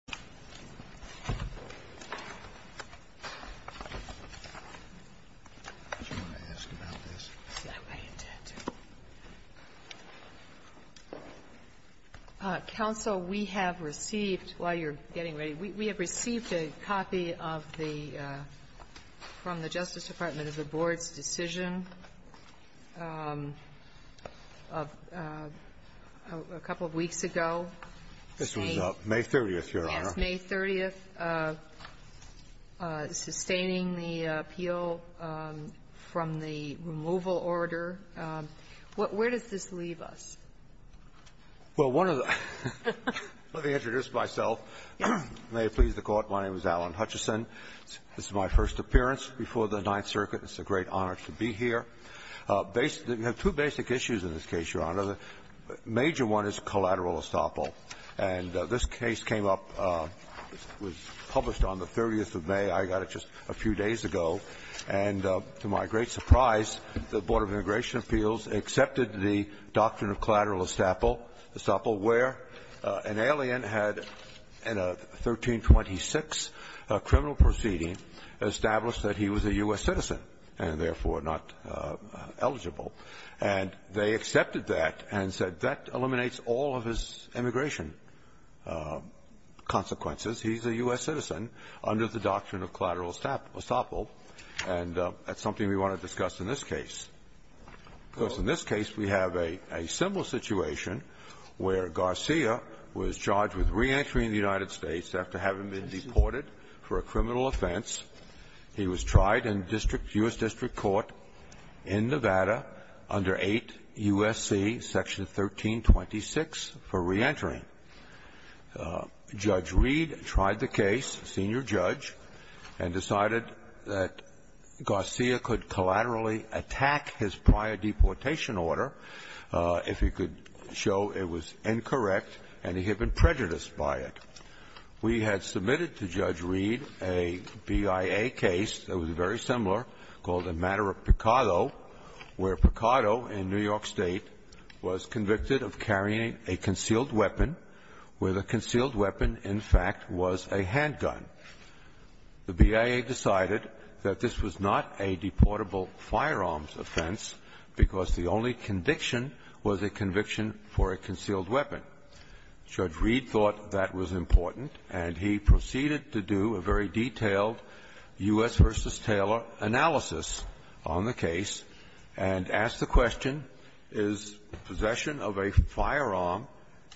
May 30, 2011 Board of Trustees Meeting, Page 17 Council, we have received a copy from the Justice Department of the Board's decision of a couple of weeks ago. This was May 30th, Your Honor. Yes, May 30th, sustaining the appeal from the removal order. Where does this leave us? Well, one of the ---- let me introduce myself. May it please the Court. My name is Alan Hutchison. This is my first appearance before the Ninth Circuit. It's a great honor to be here. We have two basic issues in this case, Your Honor. The major one is collateral estoppel. And this case came up, was published on the 30th of May. I got it just a few days ago. And to my great surprise, the Board of Immigration Appeals accepted the doctrine of collateral estoppel, where an alien had in a 1326 criminal proceeding established that he was a U.S. citizen. And therefore, not eligible. And they accepted that and said that eliminates all of his immigration consequences. He's a U.S. citizen under the doctrine of collateral estoppel. And that's something we want to discuss in this case. Because in this case, we have a simple situation where Garcia was charged with reentry in the United States after having been deported for a criminal offense. He was tried in district, U.S. District Court in Nevada under 8 U.S.C. section 1326 for reentry. Judge Reed tried the case, senior judge, and decided that Garcia could collaterally attack his prior deportation order if he could show it was incorrect and he had been prejudiced by it. We had submitted to Judge Reed a BIA case that was very similar called the matter of Picado, where Picado in New York State was convicted of carrying a concealed weapon, where the concealed weapon, in fact, was a handgun. The BIA decided that this was not a deportable firearms offense because the only conviction was a conviction for a concealed weapon. Judge Reed thought that was important, and he proceeded to do a very detailed U.S. v. Taylor analysis on the case and asked the question, is possession of a firearm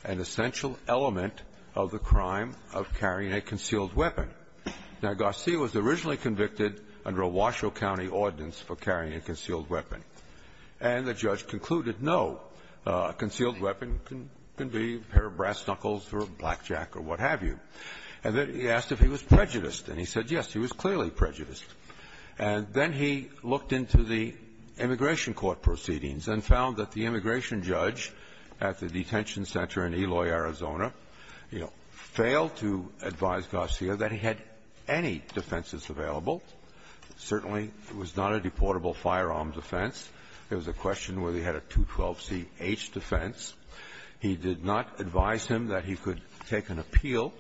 an essential element of the crime of carrying a concealed weapon? Now, Garcia was originally convicted under a Washoe County ordinance for carrying a concealed weapon. And the judge concluded, no, a concealed weapon can be a pair of brass knuckles or a blackjack or what have you. And then he asked if he was prejudiced, and he said, yes, he was clearly prejudiced. And then he looked into the immigration court proceedings and found that the immigration judge at the detention center in Eloy, Arizona, you know, failed to advise Garcia that he had any defenses available. Certainly, it was not a deportable firearms offense. There was a question whether he had a 212C-H defense. He did not advise him that he could take an appeal.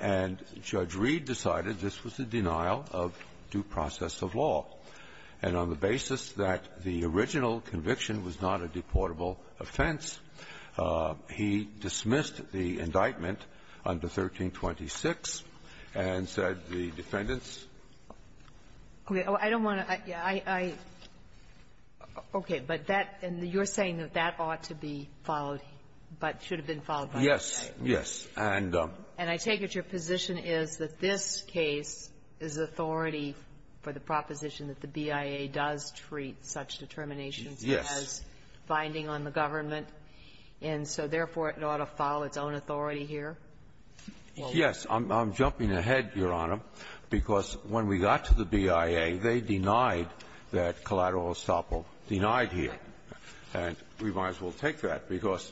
And Judge Reed decided this was a denial of due process of law. And on the basis that the original conviction was not a deportable offense, he dismissed the indictment under 1326 and said the defendants, I don't want to, I, I, okay, but that, and you're saying that that ought to be followed, but should have been followed by the judge. Yes, yes, and. And I take it your position is that this case is authority for the proposition that the BIA does treat such determinations as binding on the government. And so, therefore, it ought to follow its own authority here? Yes. I'm jumping ahead, Your Honor, because when we got to the BIA, they denied that collateral estoppel denied here. And we might as well take that, because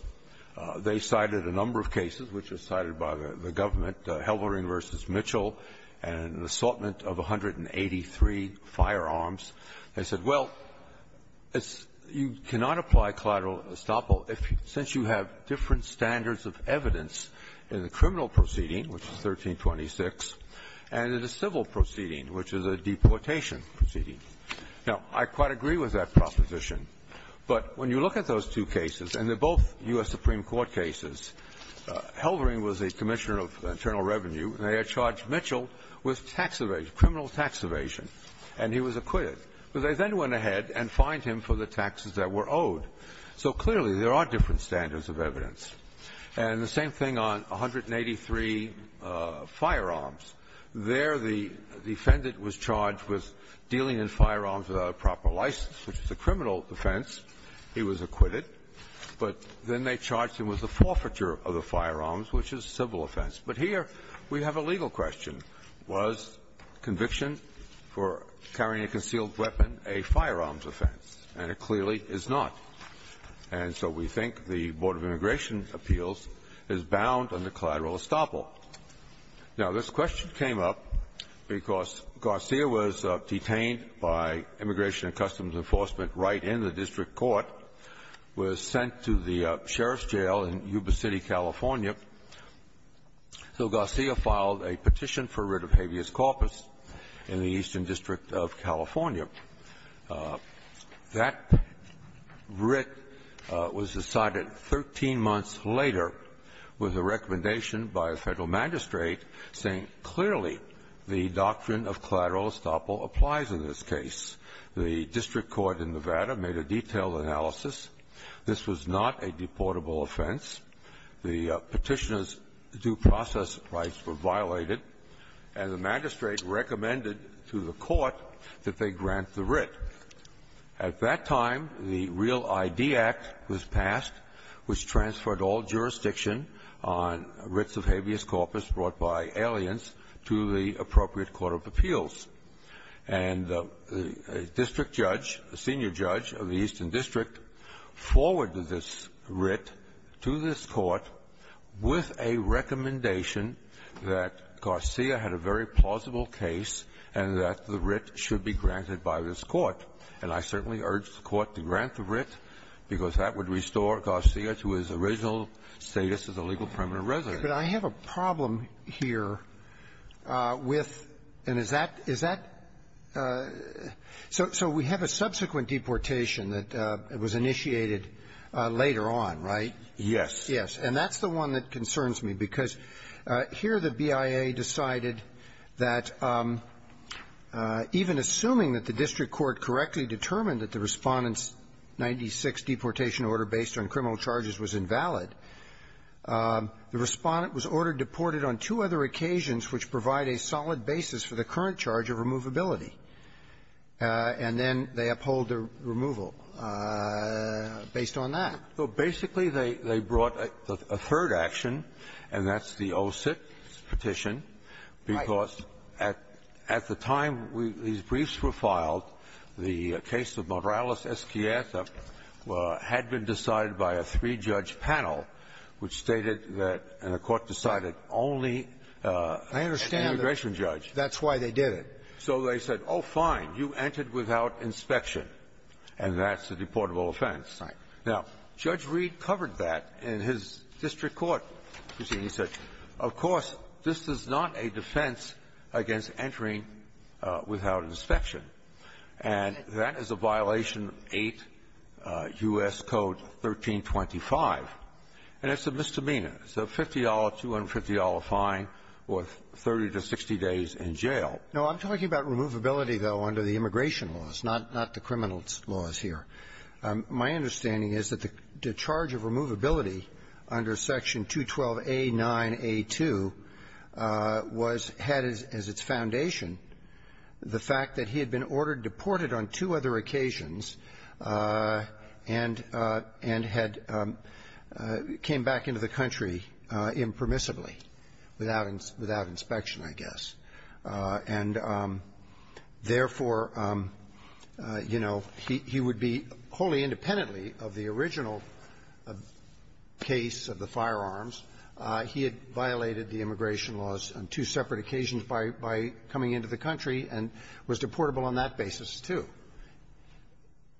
they cited a number of cases which were cited by the government, Helmering v. Mitchell, and an assortment of 183 firearms. They said, well, it's you cannot apply collateral estoppel if you, since you have different standards of evidence in the criminal proceeding, which is 1326, and in the civil proceeding, which is a deportation proceeding. Now, I quite agree with that proposition, but when you look at those two cases, and they're both U.S. Supreme Court cases, Helmering was a commissioner of internal revenue, and they had charged Mitchell with tax evasion, criminal tax evasion, and he was acquitted. But they then went ahead and fined him for the taxes that were owed. So clearly, there are different standards of evidence. And the same thing on 183 firearms. There, the defendant was charged with dealing in firearms without a proper license, which is a criminal offense. He was acquitted. But then they charged him with the forfeiture of the firearms, which is a civil offense. But here, we have a legal question. Was conviction for carrying a concealed weapon a firearms offense? And it clearly is not. And so we think the Board of Immigration Appeals is bound under collateral estoppel. Now, this question came up because Garcia was detained by Immigration and Customs Enforcement right in the district court, was sent to the sheriff's jail in Yuba City, California. So Garcia filed a petition for writ of habeas corpus in the Eastern District of California. That writ was decided 13 months later with a recommendation by a Federal magistrate saying clearly the doctrine of collateral estoppel applies in this case. The district court in Nevada made a detailed analysis. This was not a deportable offense. The Petitioner's due process rights were violated, and the magistrate recommended to the court that they grant the writ. At that time, the REAL-ID Act was passed, which transferred all jurisdiction on writs of habeas corpus brought by aliens to the appropriate court of appeals. And a district judge, a senior judge of the Eastern District, forwarded this writ to this court with a recommendation that Garcia had a very plausible case, and that the writ should be granted by this court. And I certainly urge the court to grant the writ, because that would restore Garcia to his original status as a legal permanent resident. Roberts. But I have a problem here with and is that is that so so we have a subsequent deportation that was initiated later on, right? Yes. Yes. And that's the one that concerns me, because here the BIA decided that, even assuming that the district court correctly determined that the Respondent's 96 deportation order based on criminal charges was invalid, the Respondent was ordered deported on two other occasions which provide a solid basis for the current charge of removability, and then they uphold the removal based on that. Well, basically, they brought a third action, and that's the 06 Petition. Right. Because at the time these briefs were filed, the case of Morales-Esquieta had been decided by a three-judge panel which stated that the court decided only immigration judge. I understand. That's why they did it. So they said, oh, fine, you entered without inspection, and that's a deportable offense. Right. Now, Judge Reed covered that in his district court proceeding. He said, of course, this is not a defense against entering without inspection. And that is a violation of 8 U.S. Code 1325, and it's a misdemeanor. It's a $50, $250 fine worth 30 to 60 days in jail. No. I'm talking about removability, though, under the immigration laws, not the criminal laws here. My understanding is that the charge of removability under Section 212A9A2 was head as its foundation, the fact that he had been ordered deported on two other occasions and had came back into the country impermissibly, without inspection, I guess. And, therefore, you know, he would be wholly independently of the original case of the firearms. He had violated the immigration laws on two separate occasions by coming into the country and was deportable on that basis, too.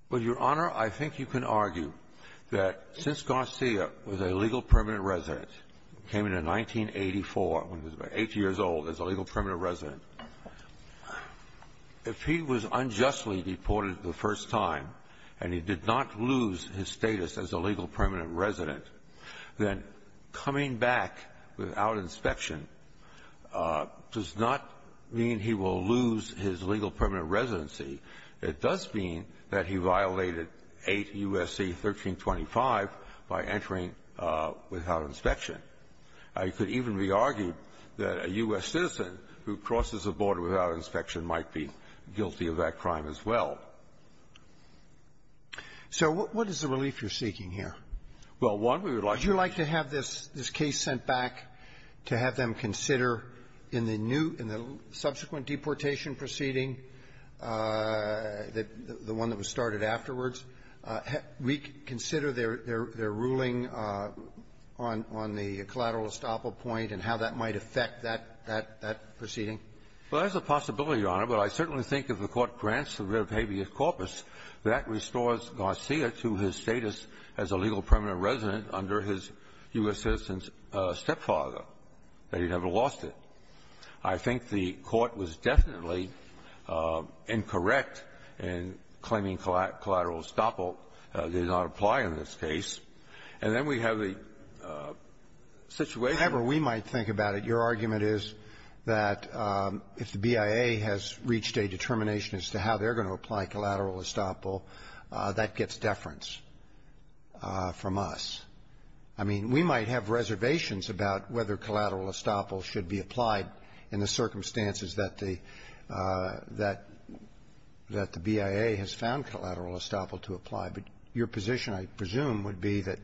Well, Your Honor, I think you can argue that since Garcia was a legal permanent resident, came in in 1984, when he was about 8 years old, as a legal permanent resident, if he was unjustly deported the first time and he did not lose his status as a legal permanent resident, then coming back without inspection does not mean he will lose his legal permanent residency. It does mean that he violated 8 U.S.C. 1325 by entering without inspection. It could even be argued that a U.S. citizen who crosses a border without inspection might be guilty of that crime as well. So what is the relief you're seeking here? Well, one, we would like to have this case sent back to have them consider in the new, in the subsequent deportation proceeding, the one that was started afterwards, reconsider their ruling on the collateral estoppel point and how that might affect that proceeding. Well, there's a possibility, Your Honor. But I certainly think if the Court grants the writ of habeas corpus, that restores Garcia to his status as a legal permanent resident under his U.S. citizen's stepfather, that he never lost it. I think the Court was definitely incorrect in claiming collateral estoppel did not apply in this case. And then we have the situation that we might think about it. Your argument is that if the BIA has reached a determination as to how they're going to apply collateral estoppel, that gets deference from us. I mean, we might have reservations about whether collateral estoppel should be applied in the circumstances that the, that the BIA has found collateral estoppel to apply. But your position, I presume, would be that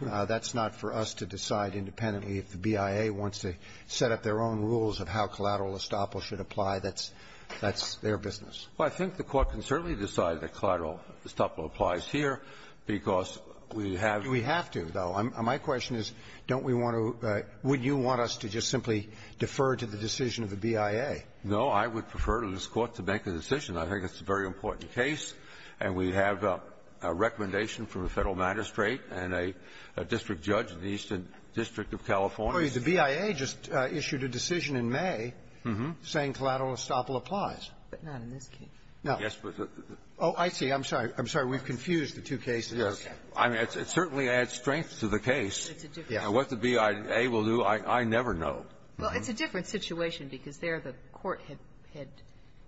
that's not for us to decide independently. If the BIA wants to set up their own rules of how collateral estoppel should apply, that's, that's their business. Well, I think the Court can certainly decide that collateral estoppel applies here because we have to. We have to, though. My question is, don't we want to – would you want us to just simply defer to the decision of the BIA? No. I would prefer to this Court to make a decision. I think it's a very important case. And we have a recommendation from the Federal Magistrate and a district judge in the Eastern District of California. The BIA just issued a decision in May saying collateral estoppel applies. But not in this case. No. Yes, but the – Oh, I see. I'm sorry. I'm sorry. We've confused the two cases. Yes. I mean, it certainly adds strength to the case. It's a different situation. What the BIA will do, I never know. Well, it's a different situation because there the Court had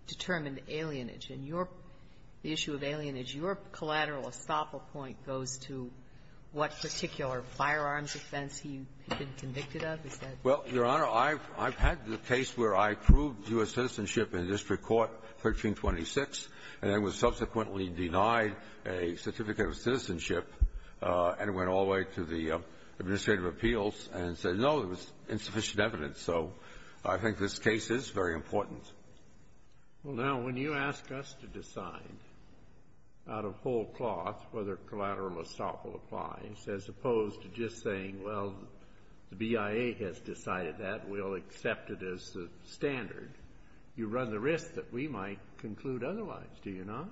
determined alienage. In your – the issue of alienage, your collateral estoppel point goes to what particular firearms offense he had been convicted of? Is that the case? Well, Your Honor, I've had the case where I proved U.S. citizenship in a district court, 1326, and I was subsequently denied a certificate of citizenship and went all the way to the Administrative Appeals and said, no, there was insufficient evidence. So I think this case is very important. Well, now, when you ask us to decide out of whole cloth whether collateral estoppel applies, as opposed to just saying, well, the BIA has decided that. We'll accept it as the standard. You run the risk that we might conclude otherwise, do you not?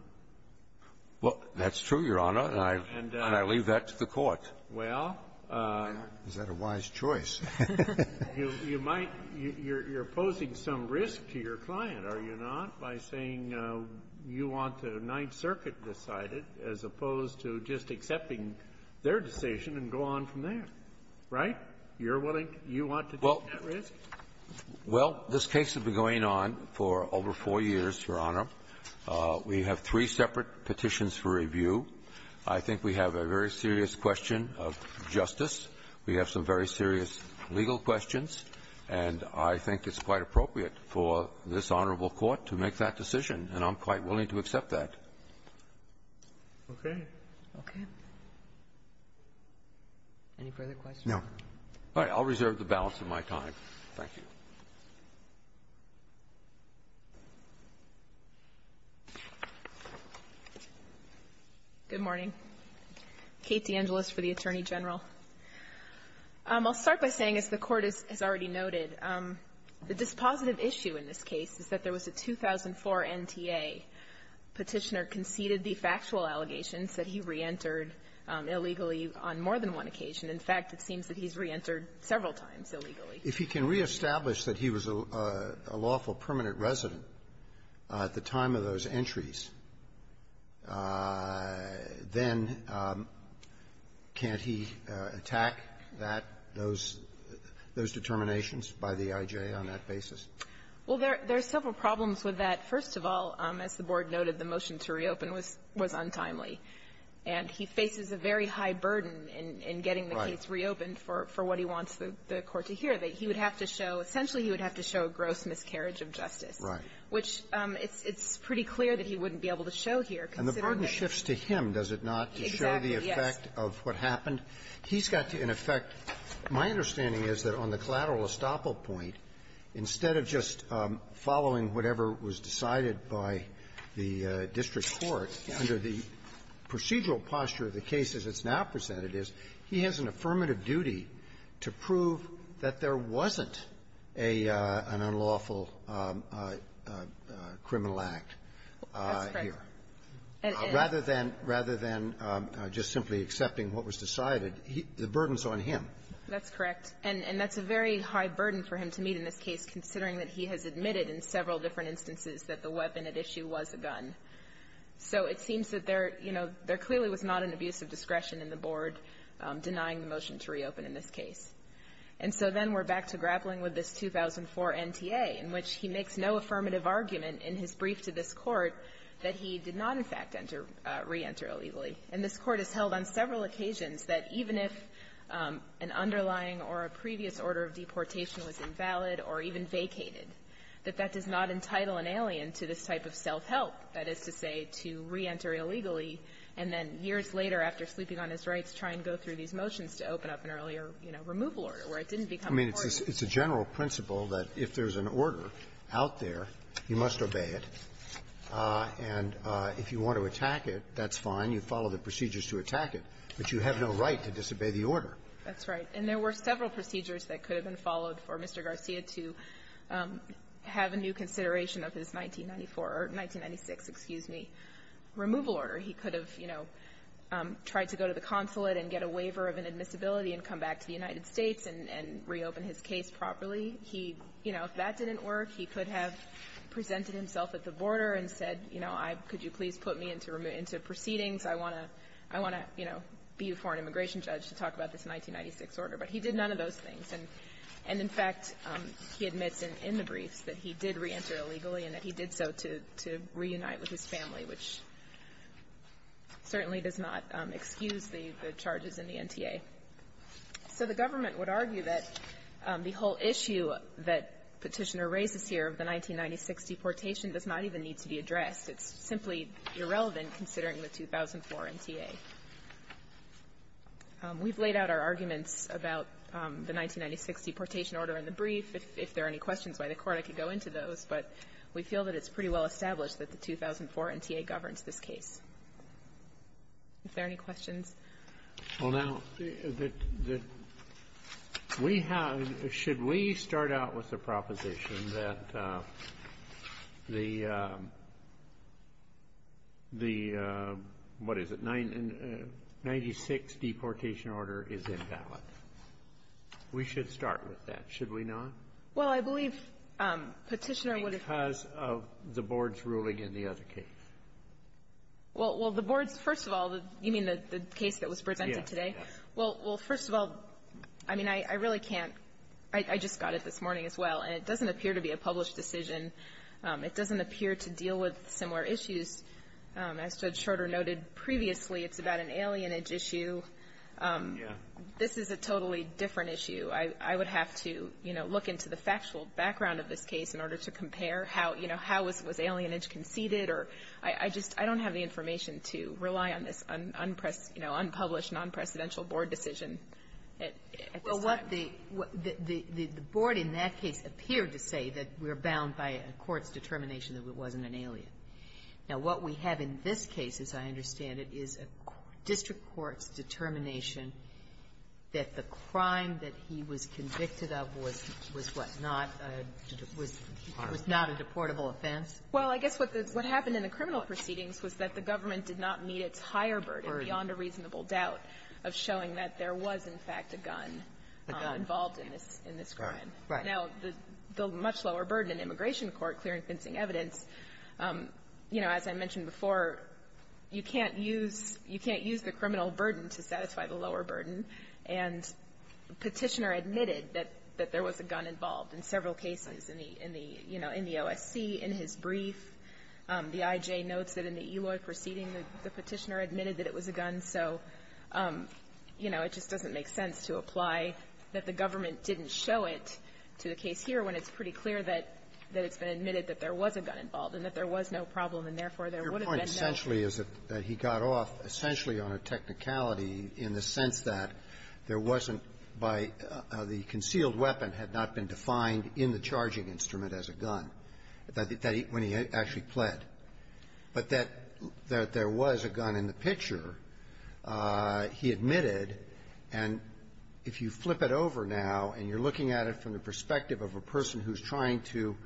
Well, that's true, Your Honor, and I leave that to the Court. Well, you might – you're – you're posing some risk to your client, are you not, by saying you want the Ninth Circuit decided as opposed to just accepting their decision and go on from there, right? You're willing – you want to take that risk? Well, this case has been going on for over four years, Your Honor. We have three separate petitions for review. I think we have a very serious question of justice. We have some very serious legal questions, and I think it's quite appropriate for this honorable court to make that decision, and I'm quite willing to accept that. Okay. Okay. Any further questions? No. All right. I'll reserve the balance of my time. Thank you. Good morning. Kate DeAngelis for the Attorney General. I'll start by saying, as the Court has already noted, the dispositive issue in this case is that there was a 2004 NTA Petitioner conceded the factual allegations that he reentered illegally on more than one occasion. In fact, it seems that he's reentered several times illegally. If he can reestablish that he was a lawful permanent resident at the time of those entries, then can't he attack that, those determinations by the I.J. on that basis? Well, there are several problems with that. First of all, as the Board noted, the motion to reopen was untimely. And he faces a very high burden in getting the case reopened for what he wants the Court to hear. And part of it, he would have to show – essentially, he would have to show a gross miscarriage of justice. Right. Which it's pretty clear that he wouldn't be able to show here, considering that he's – And the burden shifts to him, does it not, to show the effect of what happened? Exactly, yes. He's got to, in effect – my understanding is that on the collateral estoppel point, instead of just following whatever was decided by the district court, under the procedural posture of the case as it's now presented is, he has an affirmative duty to prove that there wasn't a – an unlawful criminal act here. That's correct. Rather than – rather than just simply accepting what was decided, he – the burden is on him. That's correct. And that's a very high burden for him to meet in this case, considering that he has admitted in several different instances that the weapon at issue was a gun. So it seems that there – you know, there clearly was not an abuse of discretion in the board denying the motion to reopen in this case. And so then we're back to grappling with this 2004 NTA, in which he makes no affirmative argument in his brief to this Court that he did not, in fact, enter – reenter illegally. And this Court has held on several occasions that even if an underlying or a previous order of deportation was invalid or even vacated, that that does not entitle an alien to this type of self-help, that is to say, to reenter illegally, and then years later, after sleeping on his rights, try and go through these motions to open up an earlier, you know, removal order where it didn't become a court. I mean, it's a general principle that if there's an order out there, you must obey it. And if you want to attack it, that's fine. You follow the procedures to attack it. But you have no right to disobey the order. That's right. And there were several procedures that could have been followed for Mr. Garcia to have a new consideration of his 1994 or 1996, excuse me, removal order. He could have, you know, tried to go to the consulate and get a waiver of inadmissibility and come back to the United States and reopen his case properly. He, you know, if that didn't work, he could have presented himself at the border and said, you know, could you please put me into proceedings? I want to, you know, be a foreign immigration judge to talk about this 1996 order. But he did none of those things. And, in fact, he admits in the briefs that he did reenter illegally and that he did so to reunite with his family, which certainly does not excuse the charges in the NTA. So the government would argue that the whole issue that Petitioner raises here, the 1996 deportation, does not even need to be addressed. It's simply irrelevant considering the 2004 NTA. We've laid out our arguments about the 1996 deportation order in the brief. If there are any questions by the Court, I could go into those. But we feel that it's pretty well established that the 2004 NTA governs this case. If there are any questions. Well, now, the we have should we start out with a proposition that the what is it, 1996 deportation order is invalid? We should start with that, should we not? Well, I believe Petitioner would have Because of the Board's ruling in the other case. Well, the Board's, first of all, you mean the case that was presented today? Yes. Well, first of all, I mean, I really can't. I just got it this morning as well. And it doesn't appear to be a published decision. It doesn't appear to deal with similar issues. As Judge Schroeder noted previously, it's about an alienage issue. Yeah. This is a totally different issue. I would have to, you know, look into the factual background of this case in order to compare how, you know, how was alienage conceded or I just don't have the information to rely on this unpublished, non-presidential Board decision at this time. Well, what the Board in that case appeared to say that we're bound by a court's determination that it wasn't an alien. Now, what we have in this case, as I understand it, is a district court's determination that the crime that he was convicted of was what, not a deportable offense? Well, I guess what happened in the criminal proceedings was that the government did not meet its higher burden beyond a reasonable doubt of showing that there was, in fact, a gun involved in this crime. A gun, right. Now, the much lower burden in immigration court, clear and convincing evidence, you know, as I mentioned before, you can't use the criminal burden to satisfy the lower burden. And Petitioner admitted that there was a gun involved in several cases in the, you know, in the OSC, in his brief. The IJ notes that in the Eloy proceeding, the Petitioner admitted that it was a gun. So, you know, it just doesn't make sense to apply that the government didn't show it to the case here when it's pretty clear that it's been admitted that there was a gun involved and that there was no problem and, therefore, there would have been no. What he did actually is that he got off essentially on a technicality in the sense that there wasn't by the concealed weapon had not been defined in the charging instrument as a gun, that when he actually pled. But that there was a gun in the picture, he admitted, and if you flip it over now and you're looking at it from the perspective of a person who's trying to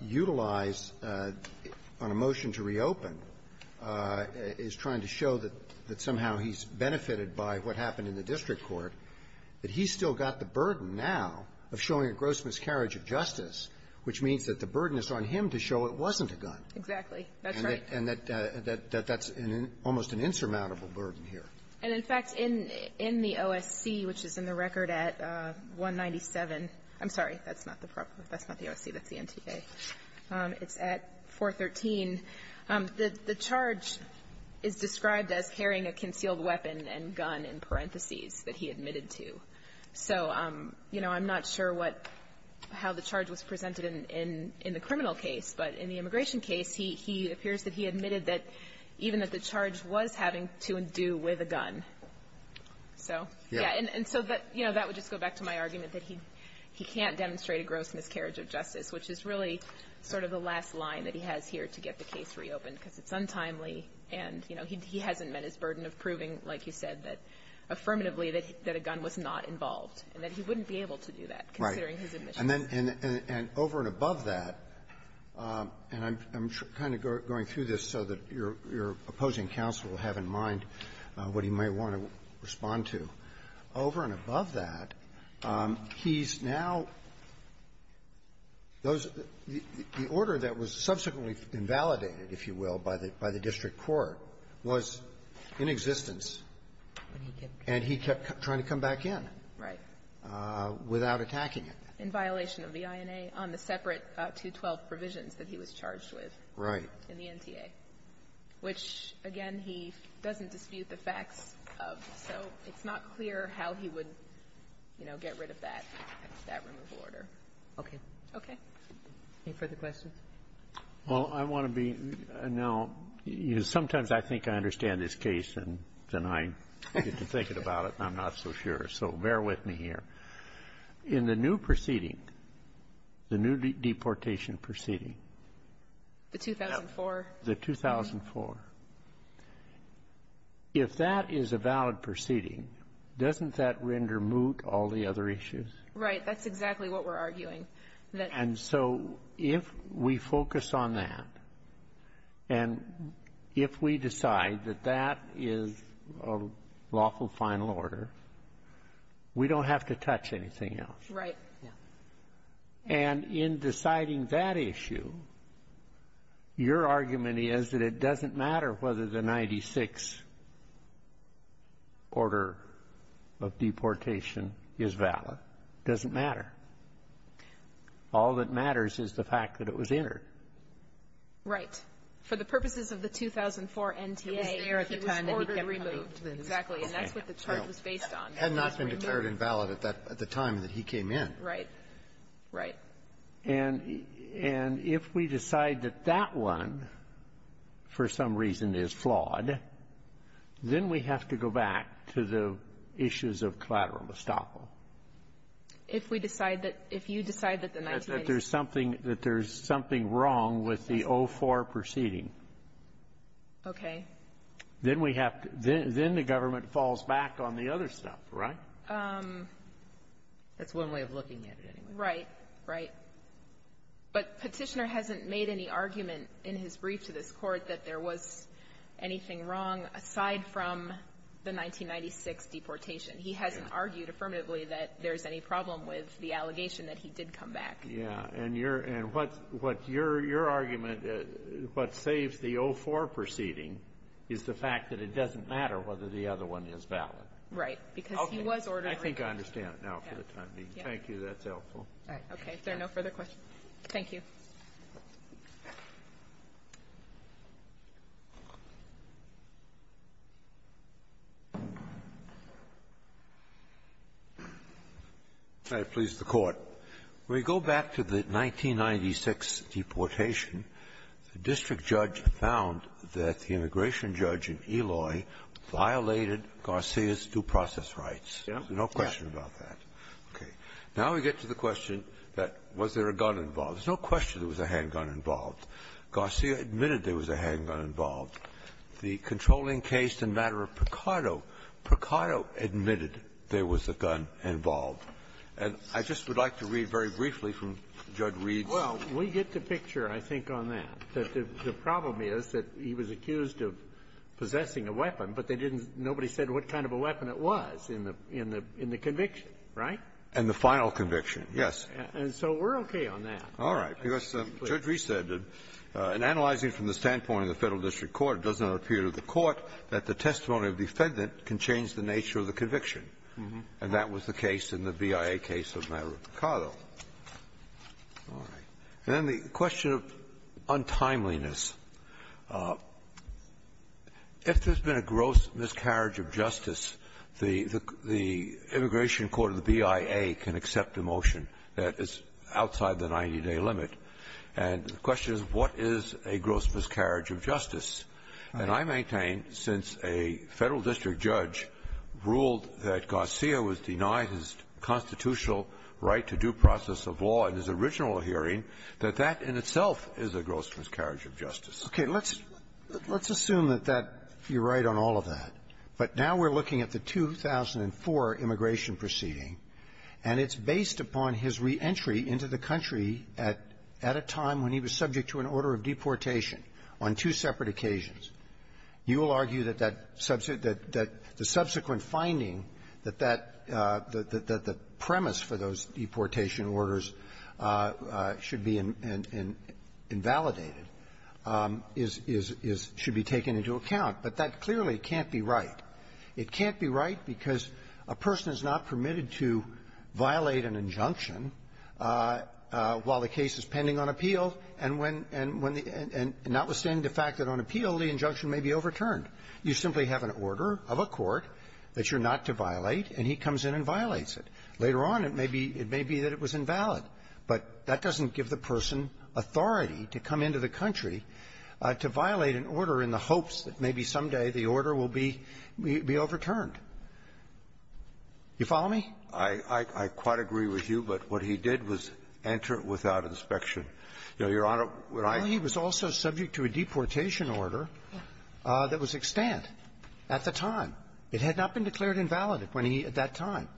utilize guns on a motion to reopen, is trying to show that somehow he's benefitted by what happened in the district court, that he's still got the burden now of showing a gross miscarriage of justice, which means that the burden is on him to show it wasn't a gun. Exactly. That's right. And that's almost an insurmountable burden here. And, in fact, in the OSC, which is in the record at 197 — I'm sorry. That's not the proper — that's not the OSC. That's the NTA. It's at 413. The charge is described as carrying a concealed weapon and gun in parentheses that he admitted to. So, you know, I'm not sure what — how the charge was presented in the criminal case, but in the immigration case, he appears that he admitted that even that the charge was having to do with a gun. So, yeah. And so that, you know, that would just go back to my argument that he can't demonstrate a gross miscarriage of justice, which is really sort of the last line that he has here to get the case reopened, because it's untimely, and, you know, he hasn't met his burden of proving, like you said, that affirmatively that a gun was not involved, and that he wouldn't be able to do that, considering his admissions. Right. And then — and over and above that, and I'm kind of going through this so that your opposing counsel will have in mind what he may want to respond to. Over and above that, he's now — those — the order that was subsequently invalidated, if you will, by the — by the district court was in existence. And he kept trying to come back in. Right. Without attacking it. In violation of the INA on the separate 212 provisions that he was charged with. Right. In the NTA, which, again, he doesn't dispute the facts of. So it's not clear how he would, you know, get rid of that — that removal order. Okay. Okay. Any further questions? Well, I want to be — now, sometimes I think I understand this case, and then I get to thinking about it, and I'm not so sure. So bear with me here. In the new proceeding, the new deportation proceeding — The 2004? The 2004. If that is a valid proceeding, doesn't that render moot all the other issues? Right. That's exactly what we're arguing. And so if we focus on that, and if we decide that that is a lawful final order, we don't have to touch anything else. Right. Yeah. And in deciding that issue, your argument is that it doesn't matter whether the 96th order of deportation is valid. It doesn't matter. All that matters is the fact that it was entered. Right. For the purposes of the 2004 NTA, he was there at the time that he got removed. Exactly. And that's what the charge was based on. Had not been declared invalid at that — at the time that he came in. Right. Right. And if we decide that that one, for some reason, is flawed, then we have to go back to the issues of collateral estoppel. If we decide that — if you decide that the — That there's something — that there's something wrong with the 04 proceeding. Okay. Then we have to — then the government falls back on the other stuff, right? That's one way of looking at it, anyway. Right. Right. But Petitioner hasn't made any argument in his brief to this Court that there was anything wrong, aside from the 1996 deportation. He hasn't argued affirmatively that there's any problem with the allegation that he did come back. Yeah. And your — and what — what your — your argument — what saves the 04 proceeding is the fact that it doesn't matter whether the other one is valid. Right. Because he was ordered — I think I understand now for the time being. Thank you. That's helpful. All right. Okay. If there are no further questions, thank you. Can I please the Court? When you go back to the 1996 deportation, the district judge found that the immigration judge in Eloy violated Garcia's due process rights. Yeah. There's no question about that. Okay. Now we get to the question that was there a gun involved. There's no question there was a handgun involved. Garcia admitted there was a handgun involved. The controlling case in matter of Picardo, Picardo admitted there was a gun involved. And I just would like to read very briefly from Judge Reed's — Well, we get the picture, I think, on that. The problem is that he was accused of possessing a weapon, but they didn't — nobody said what kind of a weapon it was in the — in the conviction, right? In the final conviction, yes. And so we're okay on that. All right. Because Judge Reed said that, in analyzing from the standpoint of the Federal district court, it does not appear to the court that the testimony of defendant can change the nature of the conviction. And that was the case in the BIA case of matter of Picardo. All right. And then the question of untimeliness. If there's been a gross miscarriage of justice, the — the immigration court of the BIA can accept a motion that is outside the 90-day limit. And the question is, what is a gross miscarriage of justice? And I maintain, since a Federal district judge ruled that Garcia was denied his constitutional right to due process of law in his original hearing, that that in itself is a gross miscarriage of justice. Okay. Let's — let's assume that that — you're right on all of that. But now we're looking at the 2004 immigration proceeding, and it's based upon his re-entry into the country at — at a time when he was subject to an order of deportation on two separate occasions. You will argue that that — that the subsequent finding that that — that the premise for those deportation orders should be invalidated is — is — is — should be taken into account. But that clearly can't be right. It can't be right because a person is not permitted to violate an injunction while the case is pending on appeal. And when — and when the — and notwithstanding the fact that on appeal, the injunction may be overturned. You simply have an order of a court that you're not to violate, and he comes in and violates it. Later on, it may be — it may be that it was invalid. But that doesn't give the person authority to come into the country to violate an order in the hopes that maybe someday the order will be — be overturned. You follow me? I — I quite agree with you, but what he did was enter it without inspection. Your Honor, what I — Well, he was also subject to a deportation order that was extant at the time. It had not been declared invalid when he — at that time.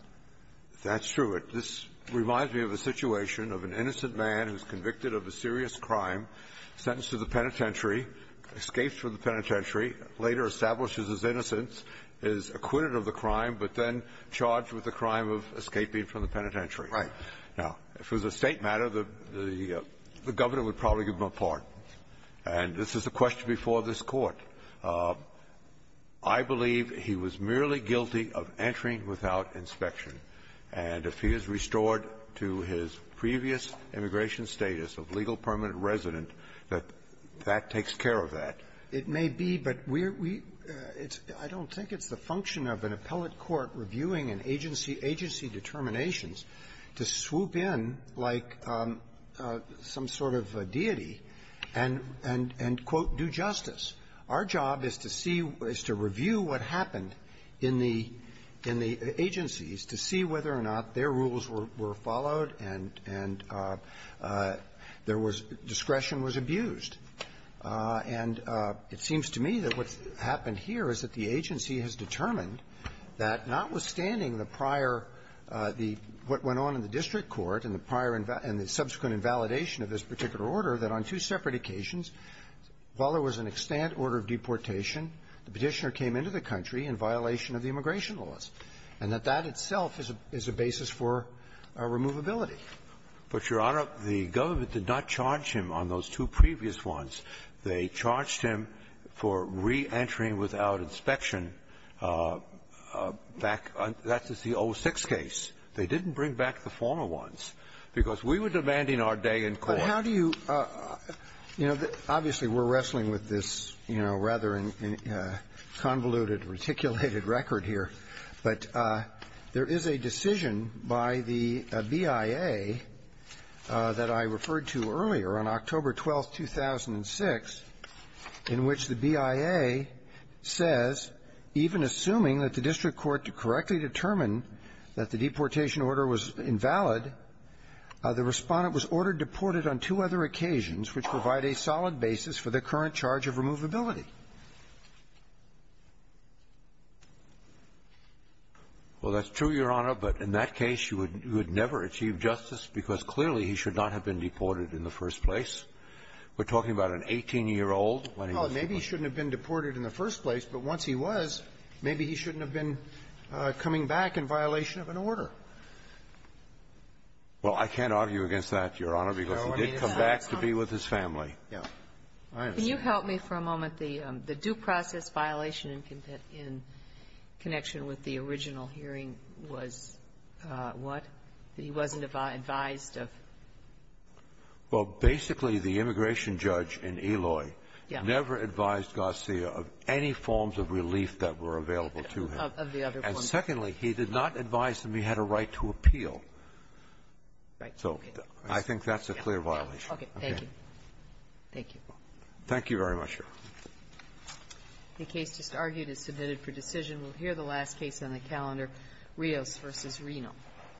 That's true. It — this reminds me of a situation of an innocent man who's convicted of a serious crime, sentenced to the penitentiary, escapes from the penitentiary, later establishes his innocence, is acquitted of the crime, but then charged with the crime of escaping from the penitentiary. Right. Now, if it was a State matter, the — the Governor would probably give him a pardon. And this is the question before this Court. I believe he was merely guilty of entering without inspection. And if he is restored to his previous immigration status of legal permanent resident, that that takes care of that. It may be, but we're — we — it's — I don't think it's the function of an appellate court reviewing an agency — agency determinations to swoop in like some sort of a deity and — and — and, quote, do justice. Our job is to see — is to review what happened in the — in the agencies to see whether or not their rules were — were followed and — and there was — discretion was abused. And it seems to me that what's happened here is that the agency has determined that notwithstanding the prior — the — what went on in the district court and the prior — and the subsequent invalidation of this particular order, that on two separate occasions, while there was an extant order of deportation, the Petitioner came into the country in violation of the immigration laws, and that that itself is a — is a basis for removability. But, Your Honor, the government did not charge him on those two previous ones. They charged him for re-entering without inspection back — that's the 06 case. They didn't bring back the former ones, because we were demanding our day in court. But how do you — you know, obviously, we're wrestling with this, you know, rather convoluted, reticulated record here. But there is a decision by the BIA that I referred to earlier on October 12th, 2006, in which the BIA says, even assuming that the district court to correctly determine that the deportation order was invalid, the Respondent was ordered deported on two other occasions which provide a solid basis for the current charge of removability. Well, that's true, Your Honor. But in that case, you would never achieve justice because, clearly, he should not have been deported in the first place. We're talking about an 18-year-old when he was deported. Well, maybe he shouldn't have been deported in the first place, but once he was, maybe he shouldn't have been coming back in violation of an order. Well, I can't argue against that, Your Honor, because he did come back to be with his family. Yeah. Can you help me for a moment? The due process violation in connection with the original hearing was what? He wasn't advised of? Well, basically, the immigration judge in Eloy never advised Garcia of any forms of relief that were available to him. Of the other forms. And secondly, he did not advise him he had a right to appeal. So I think that's a clear violation. Okay. Thank you. Thank you. Thank you very much, Your Honor. The case just argued is submitted for decision. We'll hear the last case on the calendar, Rios v. Reno.